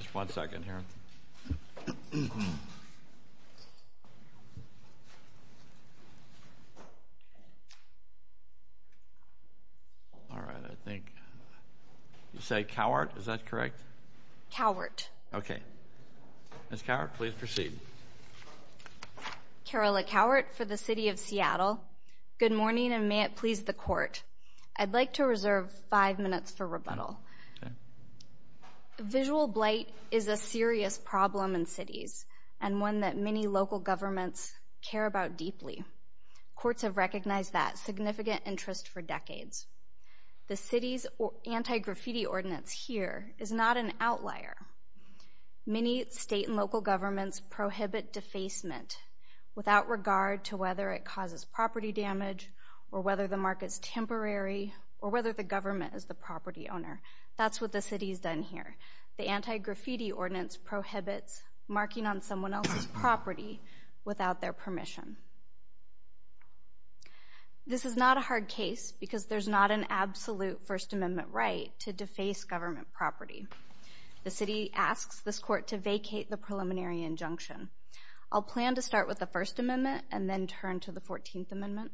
Just one second here. All right, I think you said Cowart, is that correct? Cowart. Okay. Ms. Cowart, please proceed. Carola Cowart for the City of Seattle. Good morning and may it please the court. I'd like to reserve five minutes for rebuttal. Okay. Visual blight is a serious problem in cities and one that many local governments care about deeply. Courts have recognized that significant interest for decades. The city's anti-graffiti ordinance here is not an outlier. Many state and local governments prohibit defacement without regard to whether it causes property damage or whether the market's temporary or whether the government is the property owner. That's what the city's done here. The anti-graffiti ordinance prohibits marking on someone else's property without their permission. This is not a hard case because there's not an absolute First Amendment right to deface government property. The city asks this court to vacate the preliminary injunction. I'll plan to start with the First Amendment and then turn to the Fourteenth Amendment.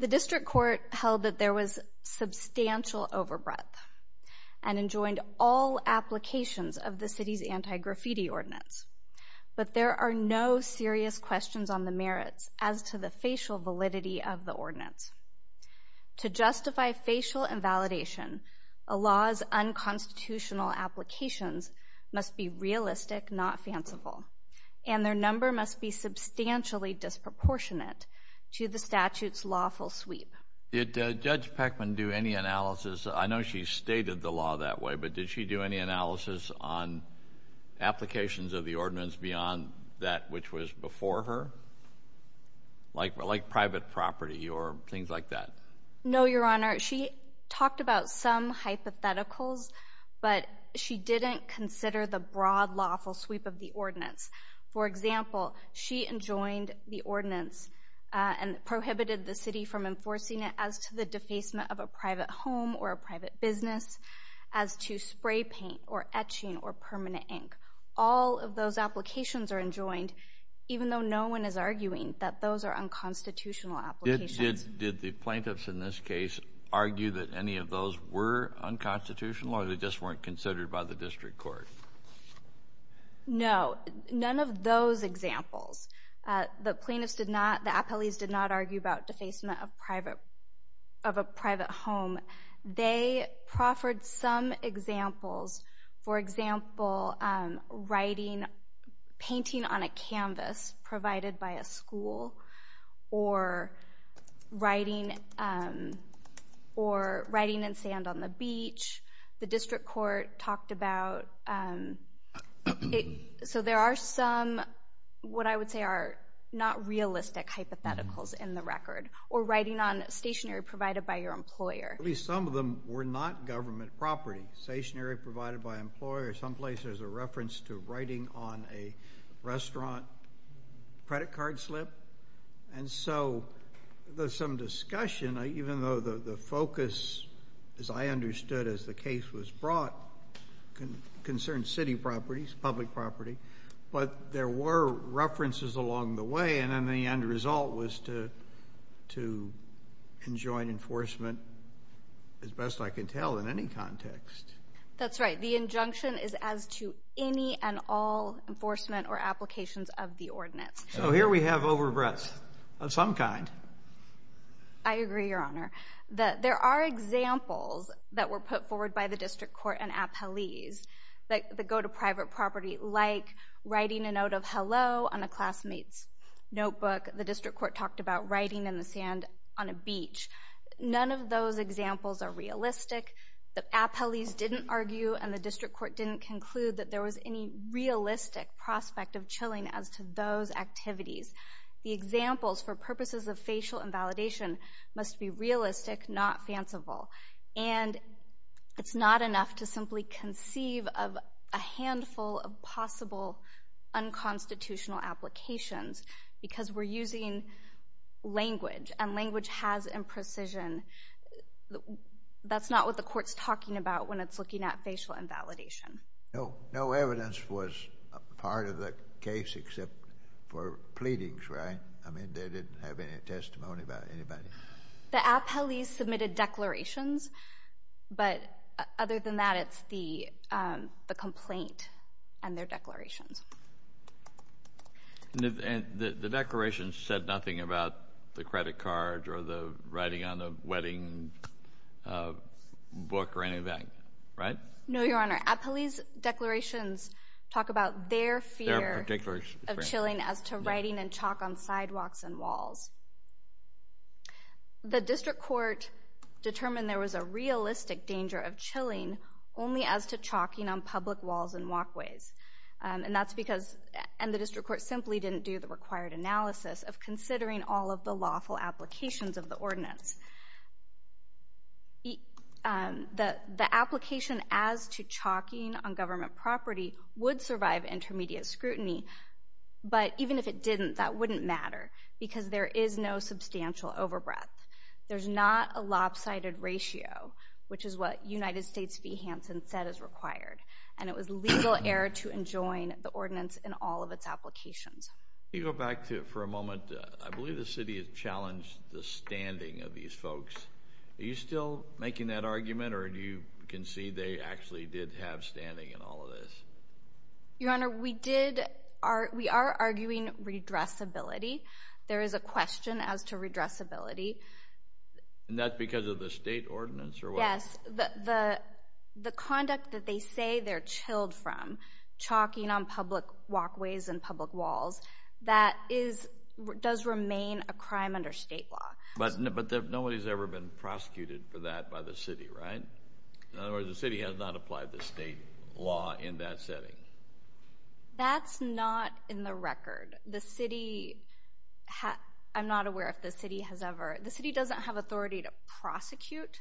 The district court held that there was substantial overbreath and enjoined all applications of the city's anti-graffiti ordinance, but there are no serious questions on the merits as to the facial validity of the ordinance. To justify facial invalidation, a law's unconstitutional applications must be realistic, not fanciful, and their number must be substantially disproportionate to the statute's lawful sweep. Did Judge Peckman do any analysis? I know she stated the law that way, but did she do any analysis on applications of the ordinance beyond that which was before her, like private property or things like that? No, Your Honor. She talked about some hypotheticals, but she didn't consider the broad lawful sweep of the ordinance. For example, she enjoined the ordinance and prohibited the city from enforcing it as to the defacement of a private home or a private business, as to spray paint or etching or permanent ink. All of those applications are enjoined, even though no one is arguing that those are unconstitutional applications. Did the plaintiffs in this case argue that any of those were unconstitutional or they just weren't considered by the district court? No, none of those examples. The plaintiffs did not, the appellees did not argue about defacement of private, of a private home. They proffered some examples. For example, writing, painting on a canvas provided by a school or writing, or writing in sand on the beach, the district court talked about it. So there are some, what I would say are not realistic hypotheticals in the record, or writing on stationery provided by your employer. At least some of them were not government property. Stationery provided by employers, someplace there's a some discussion, even though the focus, as I understood as the case was brought, concerned city properties, public property, but there were references along the way, and then the end result was to enjoin enforcement, as best I can tell, in any context. That's right, the injunction is as to any and all enforcement or applications of the ordinance. So here we have overbreaths of some kind. I agree, Your Honor. There are examples that were put forward by the district court and appellees that go to private property, like writing a note of hello on a classmate's notebook. The district court talked about writing in the sand on a beach. None of those examples are realistic. The appellees didn't argue, and the district court didn't conclude that there was any The purposes of facial invalidation must be realistic, not fanciful, and it's not enough to simply conceive of a handful of possible unconstitutional applications, because we're using language, and language has imprecision. That's not what the court's talking about when it's looking at facial invalidation. No, no evidence was part of the case, except for pleadings, right? I didn't have any testimony about anybody. The appellees submitted declarations, but other than that, it's the complaint and their declarations. And the declarations said nothing about the credit cards or the writing on the wedding book or anything, right? No, Your Honor. Appellees' declarations talk about their fear of chilling as to writing and chalk on sidewalks and walls. The district court determined there was a realistic danger of chilling only as to chalking on public walls and walkways, and that's because the district court simply didn't do the required analysis of considering all of the lawful applications of the ordinance. The application as to chalking on intermediate scrutiny, but even if it didn't, that wouldn't matter, because there is no substantial overbreath. There's not a lopsided ratio, which is what United States v. Hansen said is required, and it was legal error to enjoin the ordinance in all of its applications. You go back to it for a moment. I believe the city has challenged the standing of these folks. Are you still making that argument, or do you concede they actually did have standing in all of this? Your Honor, we are arguing redressability. There is a question as to redressability. And that's because of the state ordinance or what? Yes, the conduct that they say they're chilled from, chalking on public walkways and public walls, that does remain a crime under state law. But nobody's ever been prosecuted for that by the city, right? In other words, state law in that setting. That's not in the record. I'm not aware if the city has ever. The city doesn't have authority to prosecute.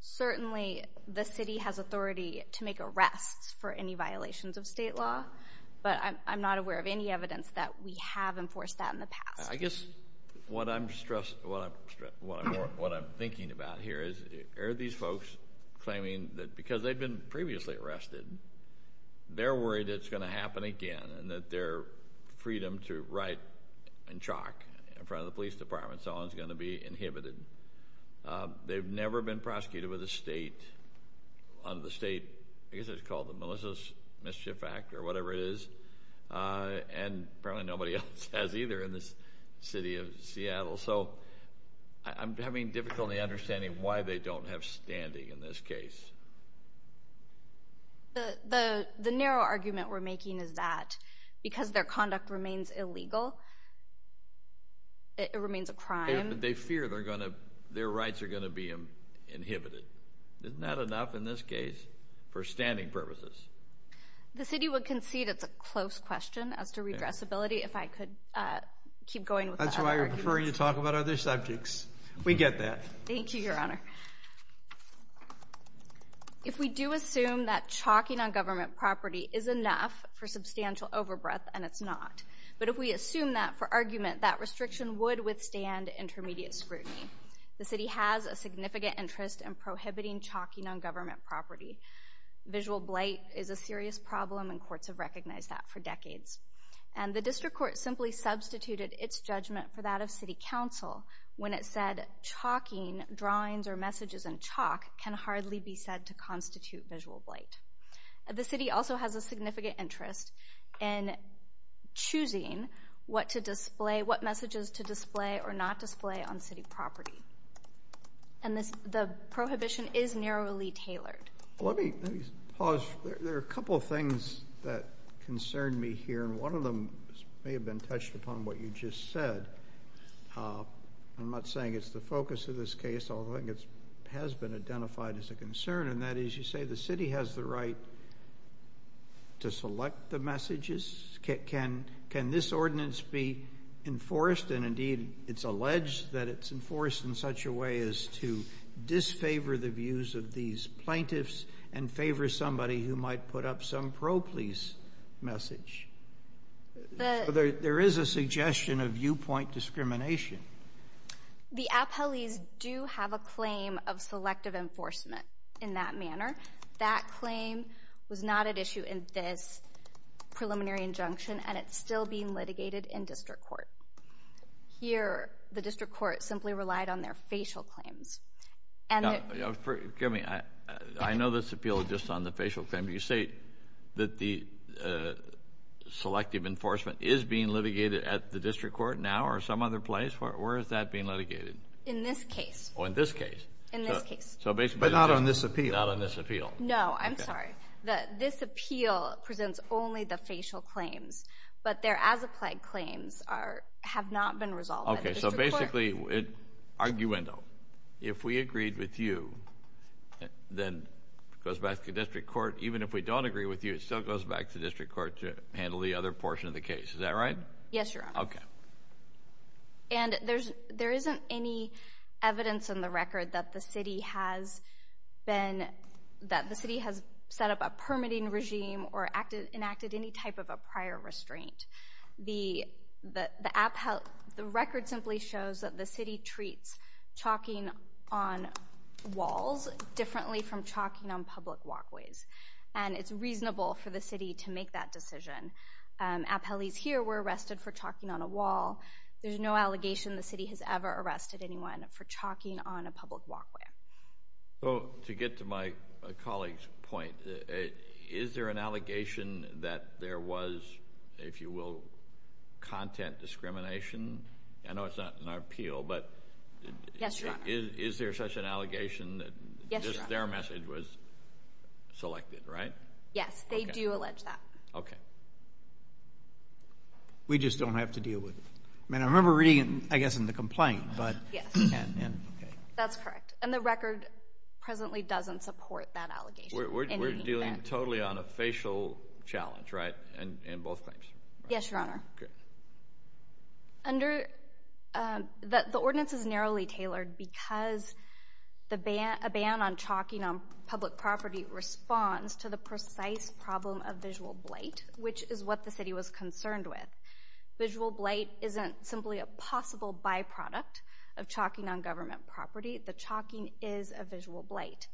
Certainly the city has authority to make arrests for any violations of state law, but I'm not aware of any evidence that we have enforced that in the past. I guess what I'm thinking about here is, are these folks claiming that because they've been previously arrested, they're worried it's going to happen again and that their freedom to write and chalk in front of the police department and so on is going to be inhibited? They've never been prosecuted with a state, under the state, I guess it's called the Melissa's Mischief Act or whatever it is. And apparently nobody else has either in this city of Seattle. So I'm having difficulty understanding why they don't have standing in this case. The narrow argument we're making is that because their conduct remains illegal, it remains a crime. They fear their rights are going to be inhibited. Isn't that enough in this case for standing purposes? The city would concede it's a close question as to redressability. If I could keep going with that. That's why you're preferring to talk about other subjects. We get that. Thank you, Your Honor. If we do assume that chalking on government property is enough for substantial overbreadth, and it's not. But if we assume that for argument, that restriction would withstand intermediate scrutiny. The city has a significant interest in prohibiting chalking on government property. Visual blight is a serious problem and courts have recognized that for decades. And the district court simply substituted its judgment for that of city council when it said chalking drawings or messages and chalk can hardly be said to constitute visual blight. The city also has a significant interest in choosing what to display, what messages to display or not display on city property. And the prohibition is narrowly tailored. Let me pause. There are a couple of things that concern me here, and one of them may have been touched upon what you just said. I'm not saying it's the focus of this case, although I think it has been identified as a concern. And that is, you say the city has the right to select the messages. Can this ordinance be enforced? And indeed, it's alleged that it's enforced in such a way as to disfavor the views of these plaintiffs and favor somebody who might put up some pro-police message. There is a suggestion of viewpoint discrimination. The appellees do have a claim of selective enforcement in that manner. That claim was not at issue in this preliminary injunction, and it's still being litigated in district court. Here, the district court simply relied on their facial claims. Forgive me, I know this appeal is just on the facial claim, but you say that the selective enforcement is being litigated at the district court now or some other place? Where is that being litigated? In this case. Oh, in this case. In this case. But not on this appeal. Not on this appeal. No, I'm sorry. This appeal presents only the facial claims, but their as-applied claims have not been goes back to district court. Even if we don't agree with you, it still goes back to district court to handle the other portion of the case. Is that right? Yes, Your Honor. Okay. And there's there isn't any evidence in the record that the city has been that the city has set up a permitting regime or enacted any type of a prior restraint. The appellee, the record simply shows that the city treats chalking on walls differently from chalking on public walkways. And it's reasonable for the city to make that decision. Appellees here were arrested for chalking on a wall. There's no allegation the city has ever arrested anyone for chalking on a public walkway. So to get to my colleague's point, is there an allegation that there was, if you will, content discrimination? I know that's not in our appeal, but is there such an allegation that their message was selected, right? Yes, they do allege that. Okay. We just don't have to deal with it. I mean, I remember reading it, I guess, in the complaint, but... Yes. Okay. That's correct. And the record presently doesn't support that allegation. We're dealing totally on a facial challenge, right? That's right. In both claims. Yes, Your Honor. Okay. Under... The ordinance is narrowly tailored because a ban on chalking on public property responds to the precise problem of visual blight, which is what the city was concerned with. Visual blight isn't simply a possible byproduct of chalking on government property. The chalking is a visual blight.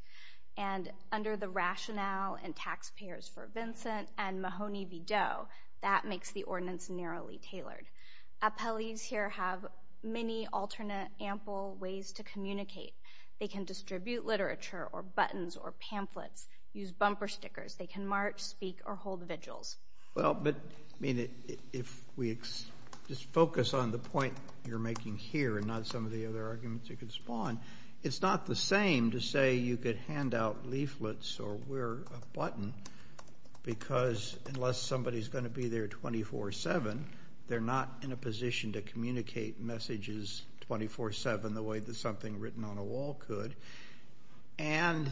And under the rationale and taxpayers for Vincent and Mahoney v. Doe, that makes the ordinance narrowly tailored. Appellees here have many alternate, ample ways to communicate. They can distribute literature or buttons or pamphlets, use bumper stickers. They can march, speak, or hold vigils. Well, but, I mean, if we just focus on the point you're making here and not some of the other arguments you could hand out leaflets or wear a button because unless somebody's going to be there 24-7, they're not in a position to communicate messages 24-7 the way that something written on a wall could. And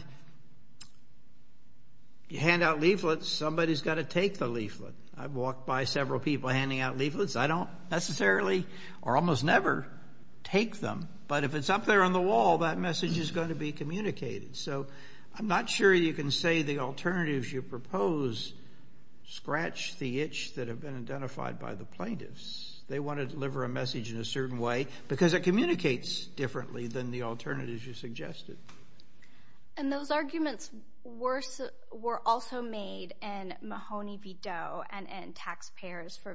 you hand out leaflets, somebody's got to take the leaflet. I've walked by several people handing out leaflets. I don't necessarily or almost never take them. But if it's up there on the wall, that message is going to be communicated. So I'm not sure you can say the alternatives you propose scratch the itch that have been identified by the plaintiffs. They want to deliver a message in a certain way because it communicates differently than the alternatives you suggested. And those arguments were also made in Mahoney v. Doe and in taxpayers for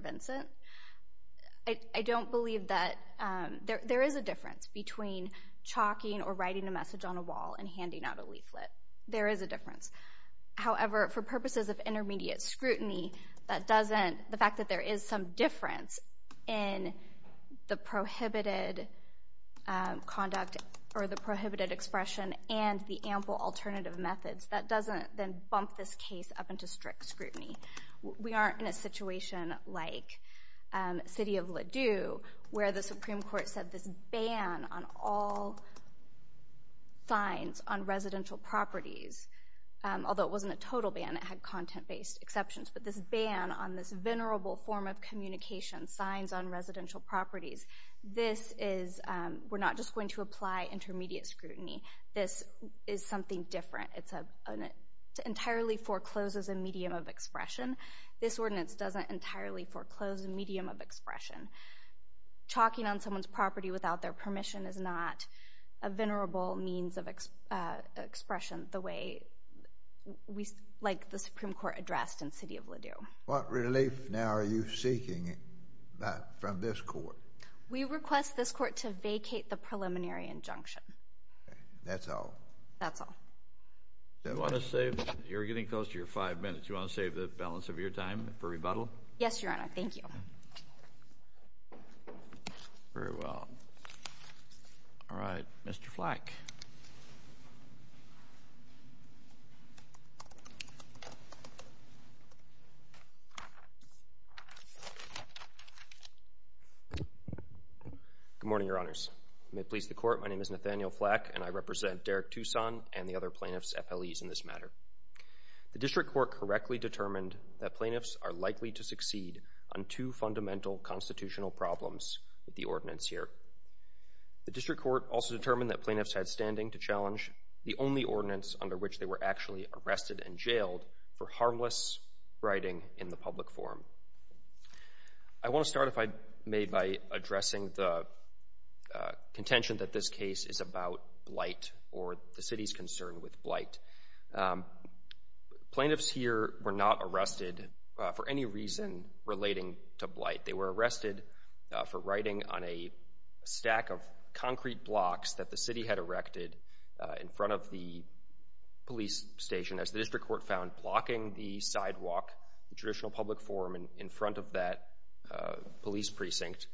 writing a message on a wall and handing out a leaflet. There is a difference. However, for purposes of intermediate scrutiny, that doesn't, the fact that there is some difference in the prohibited conduct or the prohibited expression and the ample alternative methods, that doesn't then bump this case up into strict scrutiny. We aren't in a situation like City of Ladue where the signs on residential properties, although it wasn't a total ban, it had content based exceptions, but this ban on this venerable form of communication, signs on residential properties, this is, we're not just going to apply intermediate scrutiny. This is something different. It entirely forecloses a medium of expression. This ordinance doesn't entirely foreclose a medium of expression. Chalking on someone's property without their permission is not a venerable means of expression the way we, like the Supreme Court addressed in City of Ladue. What relief now are you seeking from this court? We request this court to vacate the preliminary injunction. That's all? That's all. You want to save, you're getting close to your five minutes, you want to save the balance of your time for rebuttal? Yes, Your Honor. Thank you. Very well. All right, Mr. Flack. Good morning, Your Honors. May it please the court, my name is Nathaniel Flack and I represent Derek Tucson and the other plaintiffs, FLEs in this matter. The district court correctly determined that plaintiffs are likely to succeed on two fundamental constitutional problems with the ordinance here. The district court also determined that plaintiffs had standing to challenge the only ordinance under which they were actually arrested and jailed for harmless writing in the public forum. I want to start, if I may, by addressing the contention that this case is about blight or the city's concern with relating to blight. They were arrested for writing on a stack of concrete blocks that the city had erected in front of the police station, as the district court found blocking the sidewalk, the traditional public forum in front of that police precinct,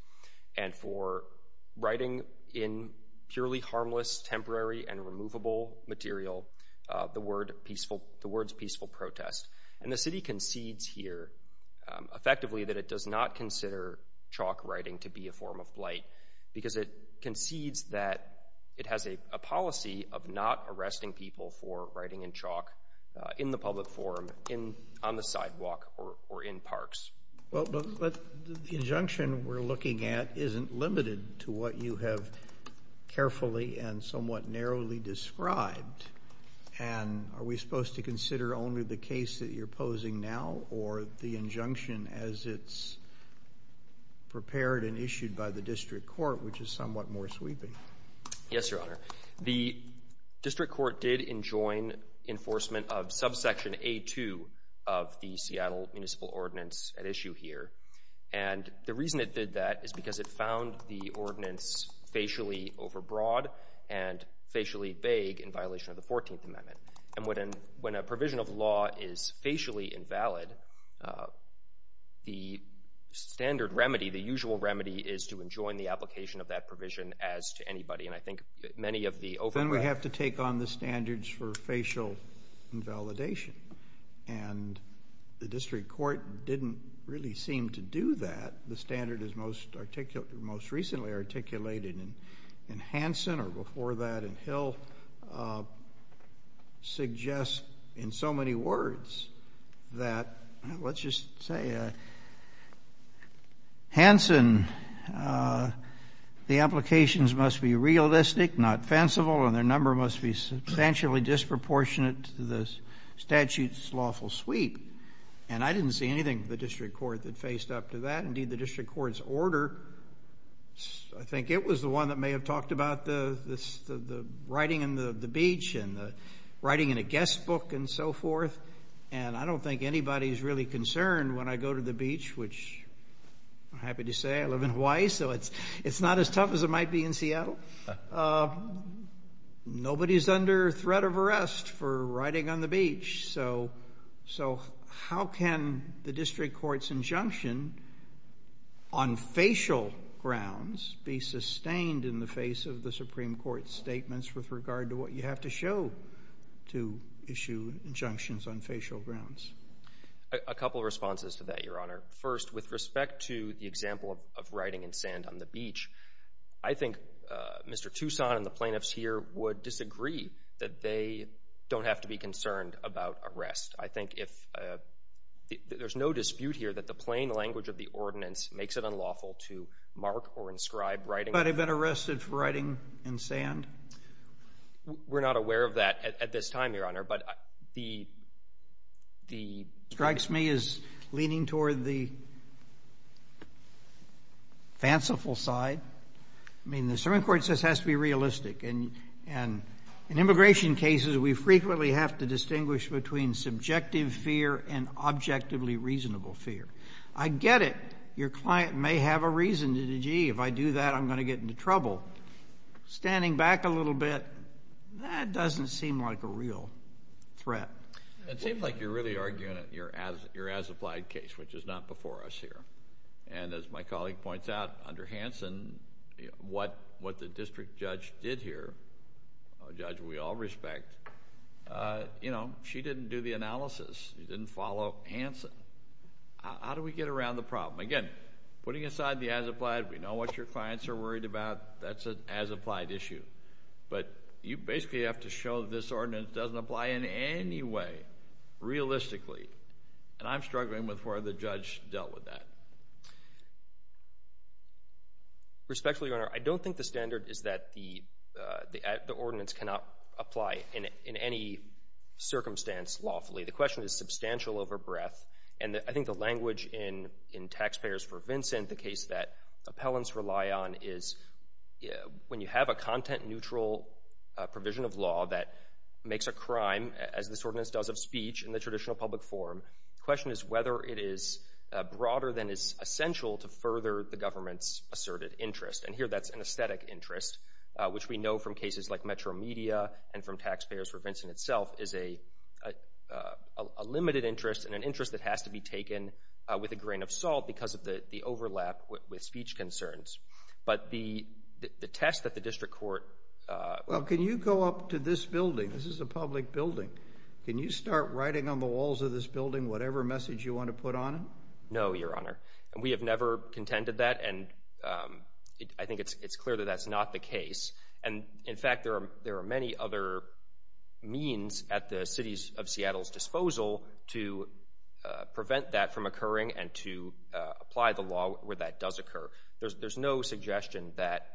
and for writing in purely harmless, temporary and removable material, the words peaceful protest. And the city concedes here, effectively, that it does not consider chalk writing to be a form of blight, because it concedes that it has a policy of not arresting people for writing in chalk in the public forum, on the sidewalk or in parks. Well, but the injunction we're looking at isn't limited to what you have carefully and somewhat narrowly described. And are we supposed to look for the injunction as it's prepared and issued by the district court, which is somewhat more sweeping? Yes, Your Honor. The district court did enjoin enforcement of subsection A2 of the Seattle Municipal Ordinance at issue here. And the reason it did that is because it found the ordinance facially overbroad and facially vague in violation of the 14th Amendment. And when a provision of law is facially invalid, the standard remedy, the usual remedy, is to enjoin the application of that provision as to anybody. And I think many of the overbroad... Then we have to take on the standards for facial invalidation. And the district court didn't really seem to do that. The standard is most recently articulated in Hansen, or before that in Hill, suggests in so many words that, let's just say, Hansen, the applications must be realistic, not fanciful, and their number must be substantially disproportionate to the statute's lawful sweep. And I didn't see anything the district court that faced up to that. Indeed, the district court's order, I think it was the one that may have talked about the writing in the beach and the writing in a guest book and so forth. And I don't think anybody's really concerned when I go to the beach, which I'm happy to say I live in Hawaii, so it's not as tough as it might be in Seattle. Nobody's under threat of arrest for writing on the beach. So how can the on facial grounds be sustained in the face of the Supreme Court's statements with regard to what you have to show to issue injunctions on facial grounds? A couple of responses to that, Your Honor. First, with respect to the example of writing in sand on the beach, I think Mr. Toussaint and the plaintiffs here would disagree that they don't have to be concerned about arrest. I think if... There's no dispute here that the plain language of the ordinance makes it unlawful to mark or inscribe writing... But have been arrested for writing in sand? We're not aware of that at this time, Your Honor. But the... Strikes me as leaning toward the fanciful side. I mean, the Supreme Court says it has to be realistic. And in immigration cases, we frequently have to distinguish between subjective fear and objectively reasonable fear. I get it, your client may have a reason to say, gee, if I do that, I'm going to get into trouble. Standing back a little bit, that doesn't seem like a real threat. It seems like you're really arguing your as-applied case, which is not before us here. And as my colleague points out, under Hanson, what the district judge did here, a judge we all respect, you know, she didn't do the analysis. She didn't follow Hanson. How do we get around the problem? Again, putting aside the as-applied, we know what your clients are worried about. That's an as-applied issue. But you basically have to show that this ordinance doesn't apply in any way, realistically. And I'm struggling with where the judge dealt with that. Respectfully, your Honor, I don't think the standard is that the ordinance cannot apply in any circumstance lawfully. The question is substantial over breadth. And I think the language in Taxpayers for Vincent, the case that appellants rely on, is when you have a content-neutral provision of law that makes a crime, as this ordinance does of speech in the traditional public forum, the question is whether it is broader than is essential to further the government's asserted interest. And here, that's an aesthetic interest, which we know from cases like Metro Media and from Taxpayers for Vincent itself is a limited interest and an interest that has to be taken with a grain of salt because of the overlap with speech concerns. But the test that the district court... Well, can you go up to this building? This is a public building. Can you start writing on the walls of this building whatever message you want to put on it? No, your Honor. And we have never contended that, and I think it's clear that that's not the case. And in fact, there are many other means at the City of Seattle's disposal to prevent that from occurring and to apply the law where that does occur. There's no suggestion that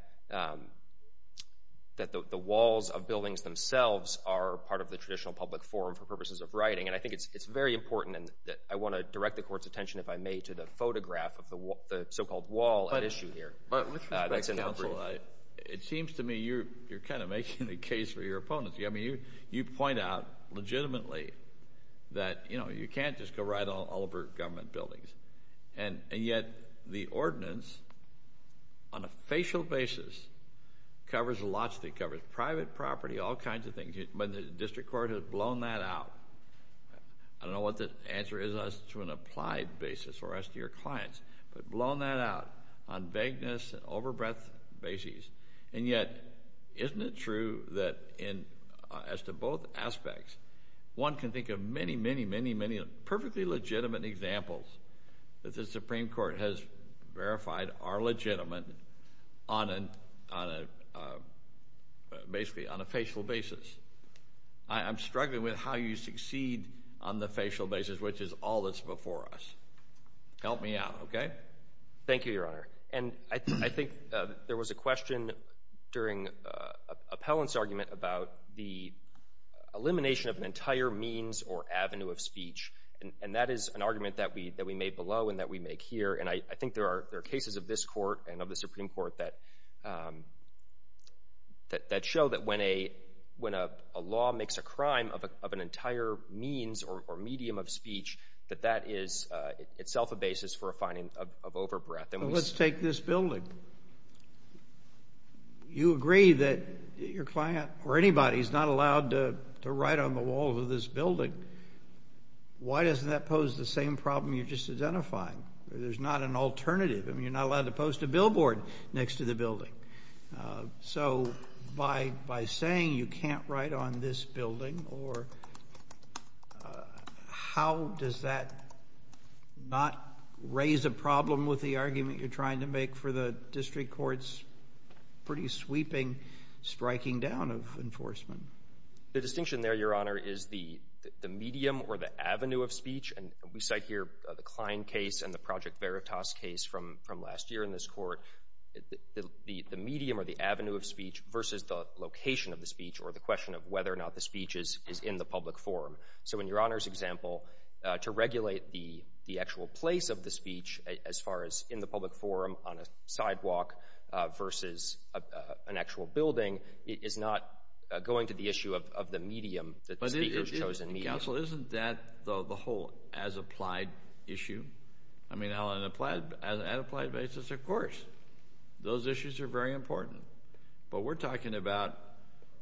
the walls of buildings themselves are part of the traditional public forum for purposes of writing. And I think it's very important, and I want to direct the Court's attention, if I may, to the photograph of the so-called wall at issue here. With respect to counsel, it seems to me you're kind of making the case for your opponents. You point out legitimately that you can't just go right all over government buildings. And yet, the ordinance on a facial basis covers lots of things. It covers private property, all kinds of things. But the district court has blown that out. I don't know what the applied basis or as to your clients, but blown that out on vagueness and overbreadth basis. And yet, isn't it true that as to both aspects, one can think of many, many, many, many perfectly legitimate examples that the Supreme Court has verified are legitimate on a basically on a facial basis. I'm struggling with how you succeed on the facial basis, which is all that's before us. Help me out, okay? Thank you, Your Honor. And I think there was a question during Appellant's argument about the elimination of an entire means or avenue of speech. And that is an argument that we made below and that we make here. And I think there are cases of this Court and of the Supreme is itself a basis for a finding of overbreadth. Let's take this building. You agree that your client or anybody is not allowed to write on the walls of this building. Why doesn't that pose the same problem you just identified? There's not an alternative. I mean, you're not allowed to post a billboard next to the building. So by saying you can't write on this building, or how does that not raise a problem with the argument you're trying to make for the district court's pretty sweeping striking down of enforcement? The distinction there, Your Honor, is the medium or the avenue of speech. And we cite here the Klein case and the Project Veritas case from last year in this Court. The medium or the avenue of speech versus the location of the speech or the question of whether or not the speech is in the public forum. So in Your Honor's example, to regulate the actual place of the speech as far as in the public forum on a sidewalk versus an actual building is not going to the issue of the medium, the speaker's chosen medium. Counsel, isn't that the whole as-applied issue? I mean, on an applied basis, of course. Those issues are very important. But we're talking about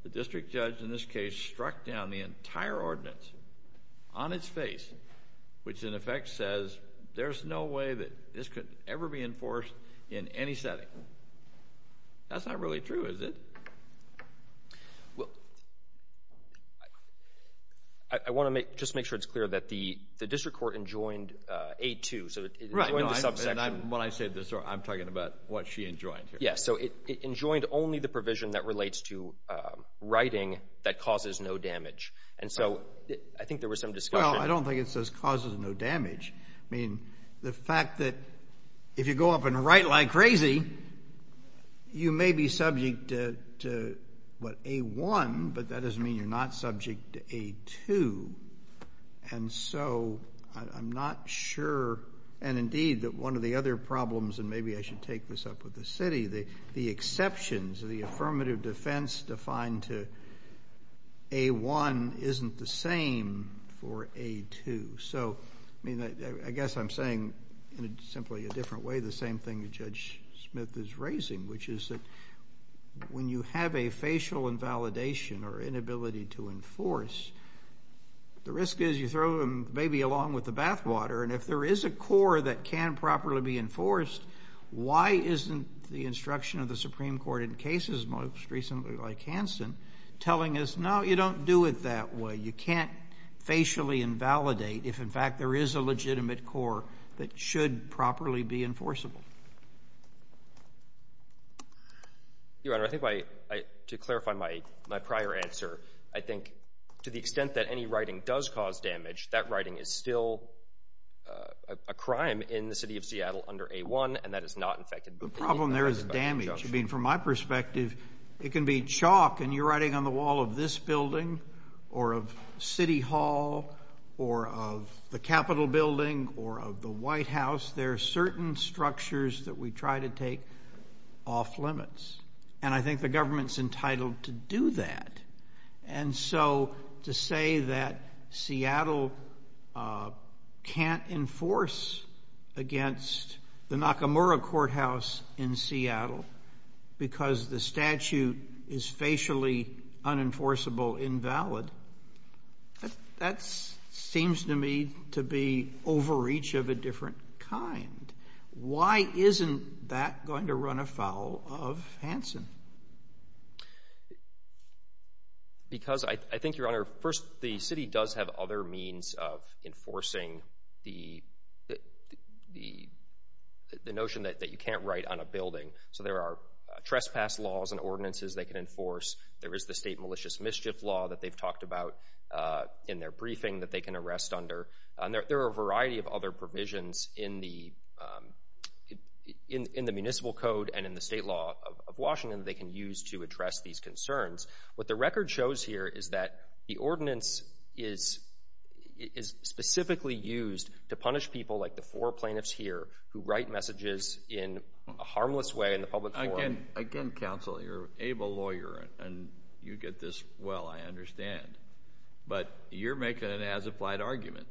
the district judge in this case struck down the entire ordinance on its face, which in effect says there's no way that this could ever be enforced in any setting. That's not really true, is it? I want to just make sure it's clear that the district court enjoined A2. Right. When I say this, I'm talking about what she enjoined here. Yes. So it enjoined only the provision that relates to writing that causes no damage. And so I think there was some discussion. Well, I don't think it says causes no damage. I mean, the fact that if you go up and write like crazy, you may be subject to, what, A1, and indeed that one of the other problems, and maybe I should take this up with the city, the exceptions, the affirmative defense defined to A1 isn't the same for A2. So, I mean, I guess I'm saying in simply a different way the same thing that Judge Smith is raising, which is that when you have a facial invalidation or inability to enforce, the risk is you throw them maybe along with the bathwater. And if there is a core that can properly be enforced, why isn't the instruction of the Supreme Court in cases most recently like Hansen telling us, no, you don't do it that way. You can't facially invalidate if, in fact, there is a legitimate core that should properly be enforceable. Your Honor, I think to clarify my prior answer, I think to the extent that any writing does cause damage, that writing is still a crime in the city of Seattle under A1, and that is not infected by the affirmative defense. The problem there is damage. I mean, from my perspective, it can be chalk and you're writing on the wall of this building or of City Hall or of the Capitol building or of the White House. There are certain structures that we try to take off limits. And I think the government's entitled to do that. And so to say that Seattle can't enforce against the Nakamura Courthouse in Seattle because the statute is facially unenforceable invalid, that seems to me to be overreach of a different kind. Why isn't that going to run afoul of the city? Because I think, Your Honor, first, the city does have other means of enforcing the notion that you can't write on a building. So there are trespass laws and ordinances they can enforce. There is the state malicious mischief law that they've talked about in their briefing that they can arrest under. And there are a variety of other provisions in the municipal code and in the state law of Washington they can use to address these concerns. What the record shows here is that the ordinance is specifically used to punish people like the four plaintiffs here who write messages in a harmless way in the public forum. Again, counsel, you're an able lawyer and you get this well, I understand. But you're making an as-applied argument.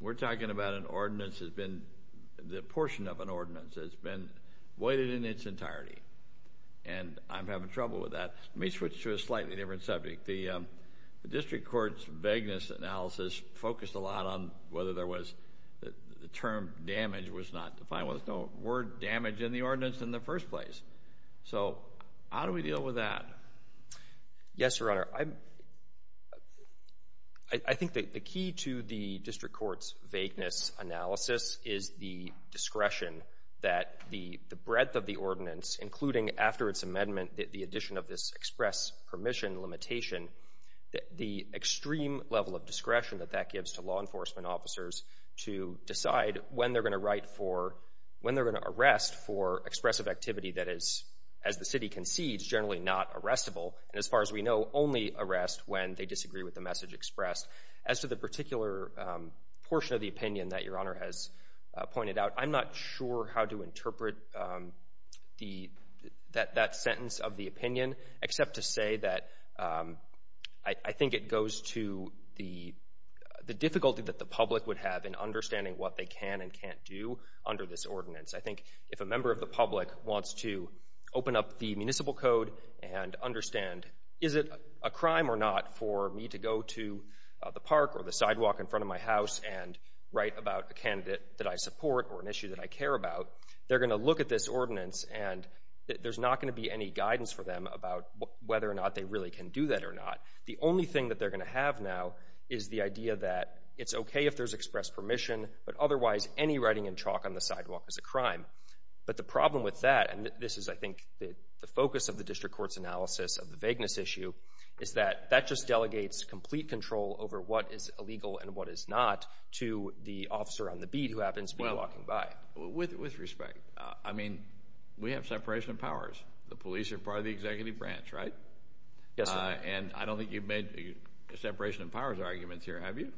We're talking about an ordinance that's been, the portion of an ordinance that's been voided in its entirety. And I'm having trouble with that. Let me switch to a slightly different subject. The district court's vagueness analysis focused a lot on whether there was, the term damage was not defined. There was no word damage in the ordinance in the first place. So how do we deal with that? Yes, Your Honor. I think that the key to the district court's vagueness analysis is the discretion that the breadth of the ordinance, including after its amendment, the addition of this express permission limitation, the extreme level of discretion that that gives to law enforcement officers to decide when they're going to write for, when they're going to arrest for expressive activity that is, as the city concedes, generally not arrestable. And as far as we know, only arrest when they disagree with the message expressed. As to the particular portion of the opinion that Your Honor has pointed out, I'm not sure how to interpret the, that sentence of the opinion except to say that I think it goes to the difficulty that the public would have in understanding what they can and can't do under this ordinance. I think if a member of the public wants to open up the municipal code and understand, is it a crime or not for me to go to the park or the sidewalk in front of my house and write about a candidate that I support or an issue that I care about, they're going to look at this ordinance and there's not going to be any guidance for them about whether or not they really can do that or not. The only thing that they're going to have now is the idea that it's okay if there's express permission, but otherwise any writing in chalk on the sidewalk is a crime. But the problem with that, and this is, I think, the focus of the district court's analysis of the vagueness issue, is that that just delegates complete control over what is illegal and what is not to the officer on the beat who happens to be walking by. Well, with respect, I mean, we have separation of powers. The police are part of the executive branch, right? Yes, sir. And I don't think you've made separation of powers arguments here, have you? No,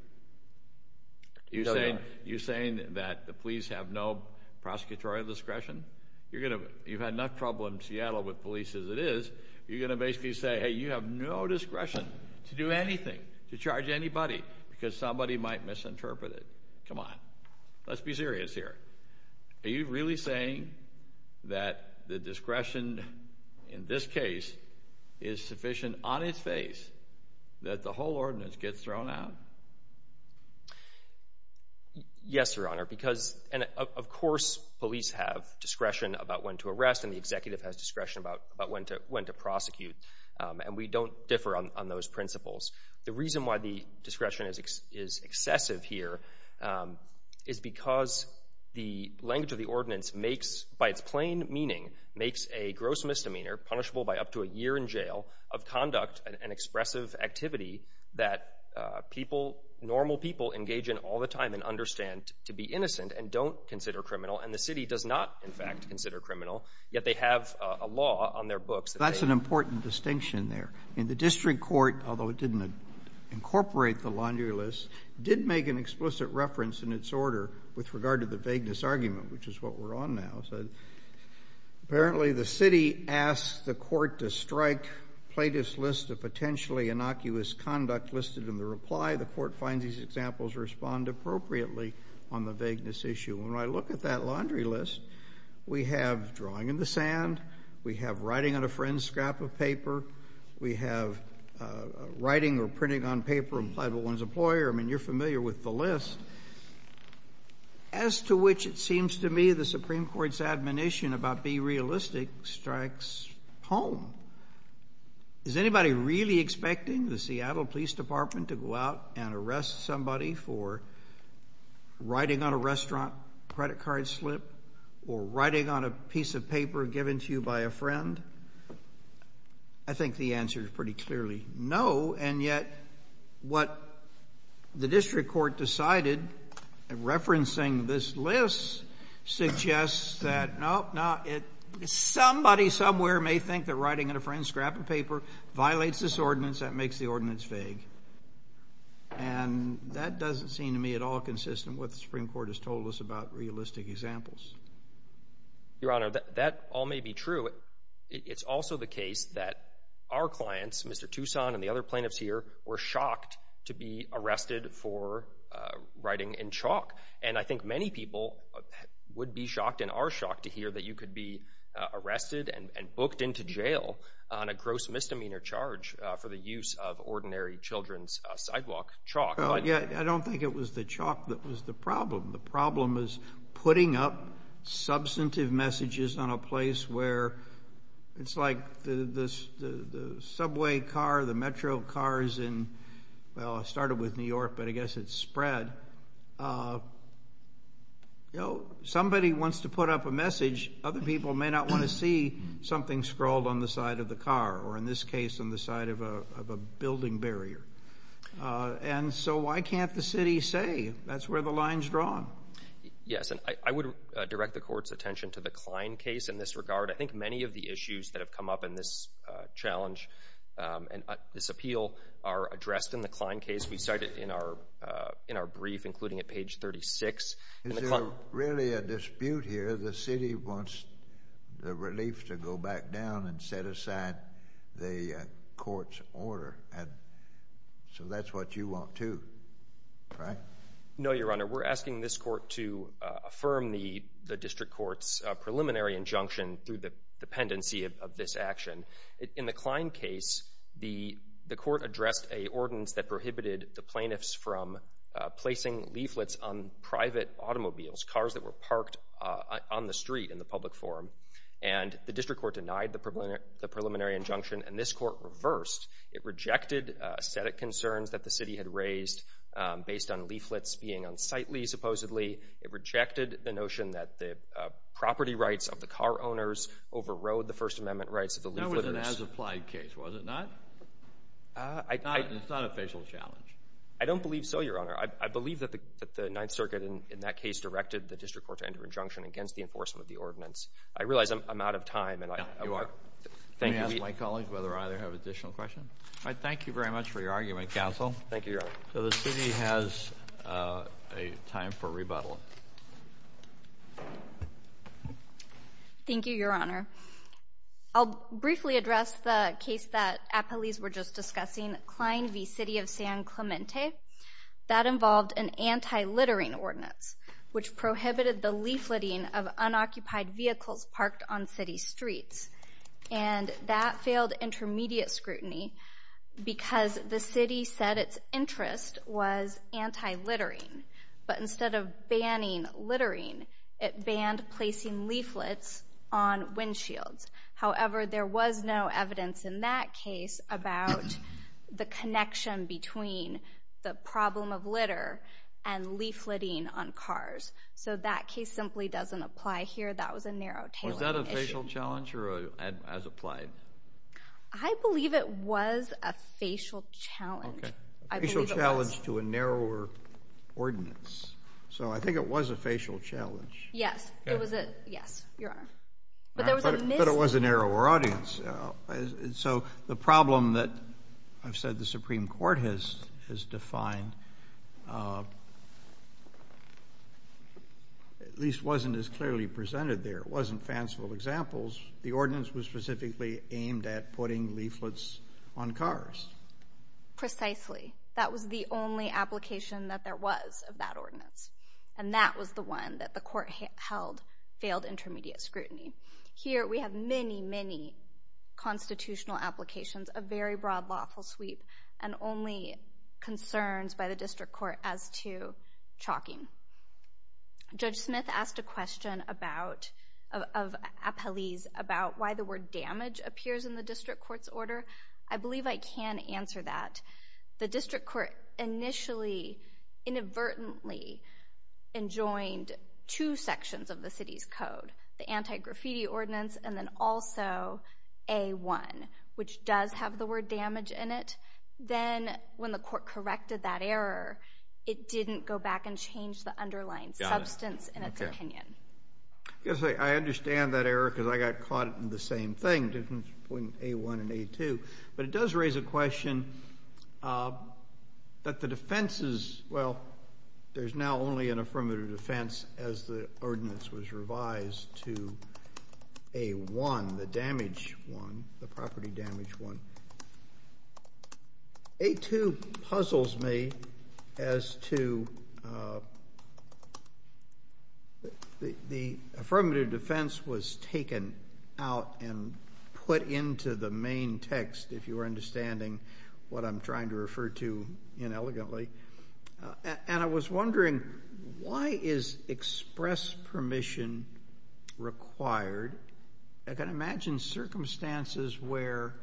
Your Honor. You're saying that the police have no prosecutorial discretion? You're going to, you've had enough trouble in Seattle with police as it is, you're going to basically say, hey, you have no discretion to do anything, to charge anybody, because somebody might misinterpret it. Come on. Let's be serious here. Are you really saying that the discretion in this case is sufficient on its face that the whole ordinance gets thrown out? Yes, Your Honor, because, and of course, police have discretion about when to arrest and the executive has discretion about when to prosecute, and we don't differ on those principles. The reason why the discretion is excessive here is because the language of the ordinance makes, by its plain meaning, makes a gross misdemeanor punishable by up to a year in jail of conduct and expressive activity that people, normal people, engage in all the time and understand to be innocent and don't consider criminal, and the city does not, in fact, consider criminal, yet they have a law on their books that says that. That's an important distinction there. And the district court, although it didn't incorporate the laundry list, did make an explicit reference in its order with regard to the vagueness argument, which is what we're on now. Apparently, the city asked the court to strike Plaintiff's List of Potentially Innocuous Conduct listed in the reply. The court finds these examples respond appropriately on the vagueness issue. When I look at that laundry list, we have drawing in the sand, we have writing on a friend's scrap of paper, we have writing or printing on paper implied by one's employer. I mean, you're familiar with the list. As to which, it seems to me, the Supreme Court's admonition about be realistic strikes home. Is anybody really expecting the Seattle Police Department to go out and arrest somebody for writing on a restaurant credit card slip or writing on a piece of paper given to you by a friend? I think the answer is pretty clearly no, and yet what the district court decided in referencing this list suggests that, nope, no, somebody somewhere may think that writing on a friend's scrap of paper violates this ordinance, that makes the ordinance vague. And that doesn't seem to me at all consistent with what the Supreme Court has told us about realistic examples. Your Honor, that all may be true. It's also the case that our clients, Mr. Toussaint and the other plaintiffs here, were shocked to be arrested for writing in chalk. And I think many people would be shocked and are shocked to hear that you could be arrested and booked into jail on a gross misdemeanor charge for the use of ordinary children's sidewalk chalk. I don't think it was the chalk that was the problem. The problem is the subway car, the metro cars in, well, it started with New York, but I guess it's spread. You know, somebody wants to put up a message. Other people may not want to see something scrawled on the side of the car or, in this case, on the side of a building barrier. And so why can't the city say that's where the line's drawn? Yes, and I would direct the Court's attention to the Klein case in this regard. I think many of the issues that have come up in this challenge and this appeal are addressed in the Klein case. We cite it in our brief, including at page 36. Is there really a dispute here? The city wants the relief to go back down and set aside the Court's order. So that's what you want, too, right? No, Your Honor. We're asking this Court to affirm the District Court's preliminary injunction through the dependency of this action. In the Klein case, the Court addressed an ordinance that prohibited the plaintiffs from placing leaflets on private automobiles, cars that were parked on the street in the public forum. And the District Court denied the preliminary injunction, and this Court reversed. It rejected aesthetic concerns that the city had raised based on leaflets being unsightly, supposedly. It rejected the notion that the property rights of the car owners overrode the First Amendment rights of the leaflet. That was an as-applied case, was it not? It's not an official challenge. I don't believe so, Your Honor. I believe that the Ninth Circuit in that case directed the District Court to enter injunction against the enforcement of the ordinance. I realize I'm out of time. No, you are. Let me ask my colleagues whether or not they have additional questions. I thank you very much for your argument, Counsel. Thank you, Your Honor. So the city has a time for rebuttal. Thank you, Your Honor. I'll briefly address the case that appellees were just discussing, Klein v. City of San Clemente. That involved an anti-littering ordinance, which prohibited the leafleting of unoccupied vehicles parked on city streets. And that failed intermediate scrutiny because the city said its interest was anti-littering. But instead of banning littering, it banned placing leaflets on windshields. However, there was no evidence in that case about the connection between the problem of litter and leafleting on cars. So that case simply doesn't apply here. That was a narrow-tailored issue. Challenge to a narrower ordinance. So I think it was a facial challenge. Yes, it was a narrower audience. So the problem that I've said the Supreme Court has defined at least wasn't as clearly presented there. It wasn't fanciful examples. The ordinance was specifically aimed at putting leaflets on cars. Precisely. That was the only application that there was of that ordinance. And that was the one that the Court held failed intermediate scrutiny. Here, we have many, many constitutional applications, a very broad lawful sweep, and only concerns by the District Court as to chalking. Judge Smith asked a question of Apeliz about why the word damage appears in the District Court's order. I believe I can answer that. The District Court initially inadvertently enjoined two sections of the city's code, the anti-graffiti ordinance and then also A-1, which does have the word damage in it. Then when the Court corrected that error, it didn't go back and change the underlying substance in its opinion. Yes, I understand that error because I got caught in the same thing between A-1 and A-2. But it does raise a question that the defense is, well, there's now only an affirmative defense as the ordinance was revised to A-1, the damage one, the property damage one. A-2 puzzles me as to the affirmative defense was taken out and put into the main text, if you are understanding what I'm trying to refer to inelegantly. I was wondering, why is express permission required? I can imagine circumstances where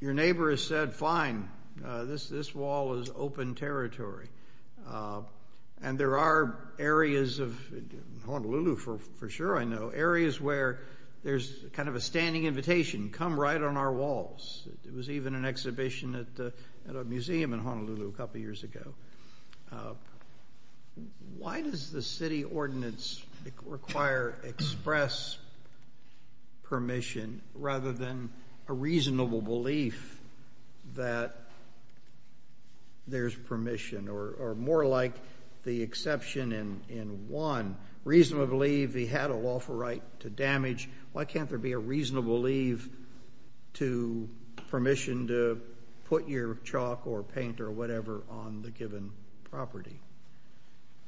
your neighbor has said, fine, this wall is open territory. There are areas of Honolulu, for sure I know, areas where there's a standing invitation, come right on our walls. There was even an exhibition at a museum in Honolulu a couple years ago. Why does the city ordinance require express permission rather than a reasonable belief that there's permission or more like the exception in one, reasonably believe he had a lawful right to damage, why can't there be a reasonable leave to permission to put your chalk or paint or whatever on the given property?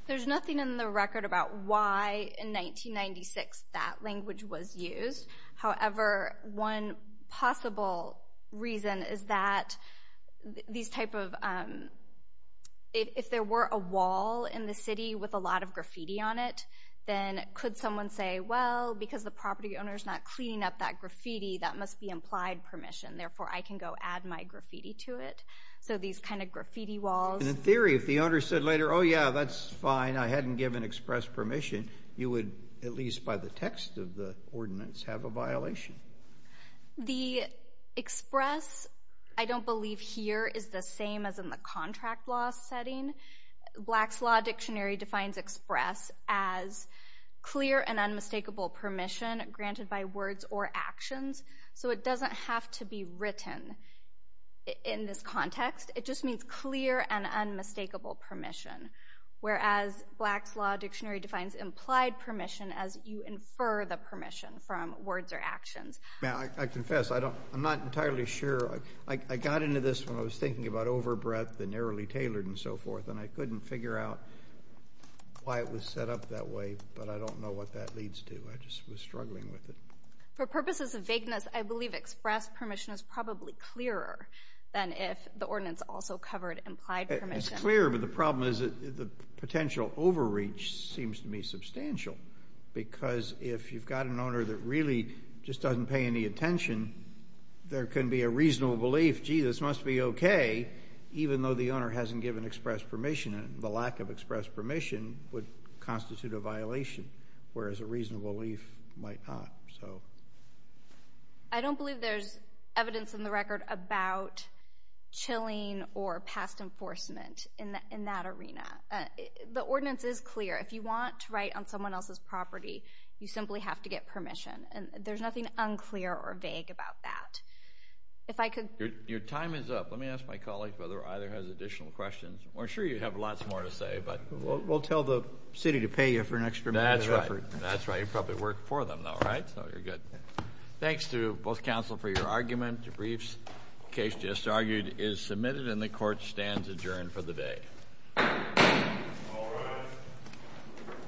There's nothing in the record about why in 1996 that language was used. However, one possible reason is that these type of, if there were a wall in the city with a because the property owner's not cleaning up that graffiti, that must be implied permission. Therefore, I can go add my graffiti to it. These kind of graffiti walls. In theory, if the owner said later, oh yeah, that's fine, I hadn't given express permission, you would, at least by the text of the ordinance, have a violation. The express, I don't believe here is the same as in the contract law setting. Black's Law Dictionary defines express as clear and unmistakable permission granted by words or actions, so it doesn't have to be written in this context. It just means clear and unmistakable permission, whereas Black's Law Dictionary defines implied permission as you infer the permission from words or actions. Now, I confess, I'm not entirely sure. I got into this when I was thinking about why it was set up that way, but I don't know what that leads to. I just was struggling with it. For purposes of vagueness, I believe express permission is probably clearer than if the ordinance also covered implied permission. It's clear, but the problem is that the potential overreach seems to me substantial, because if you've got an owner that really just doesn't pay any attention, there can be a reasonable belief, gee, this must be okay, even though the owner hasn't given express permission would constitute a violation, whereas a reasonable belief might not. I don't believe there's evidence in the record about chilling or past enforcement in that arena. The ordinance is clear. If you want to write on someone else's property, you simply have to get permission, and there's nothing unclear or vague about that. Your time is up. Let me ask my colleague whether either has additional questions. We're sure you have lots more to say, but... We'll tell the city to pay you for an extra minute of effort. That's right. You probably work for them, though, right? So you're good. Thanks to both counsel for your argument. The briefs case just argued is submitted, and the court stands adjourned for the day.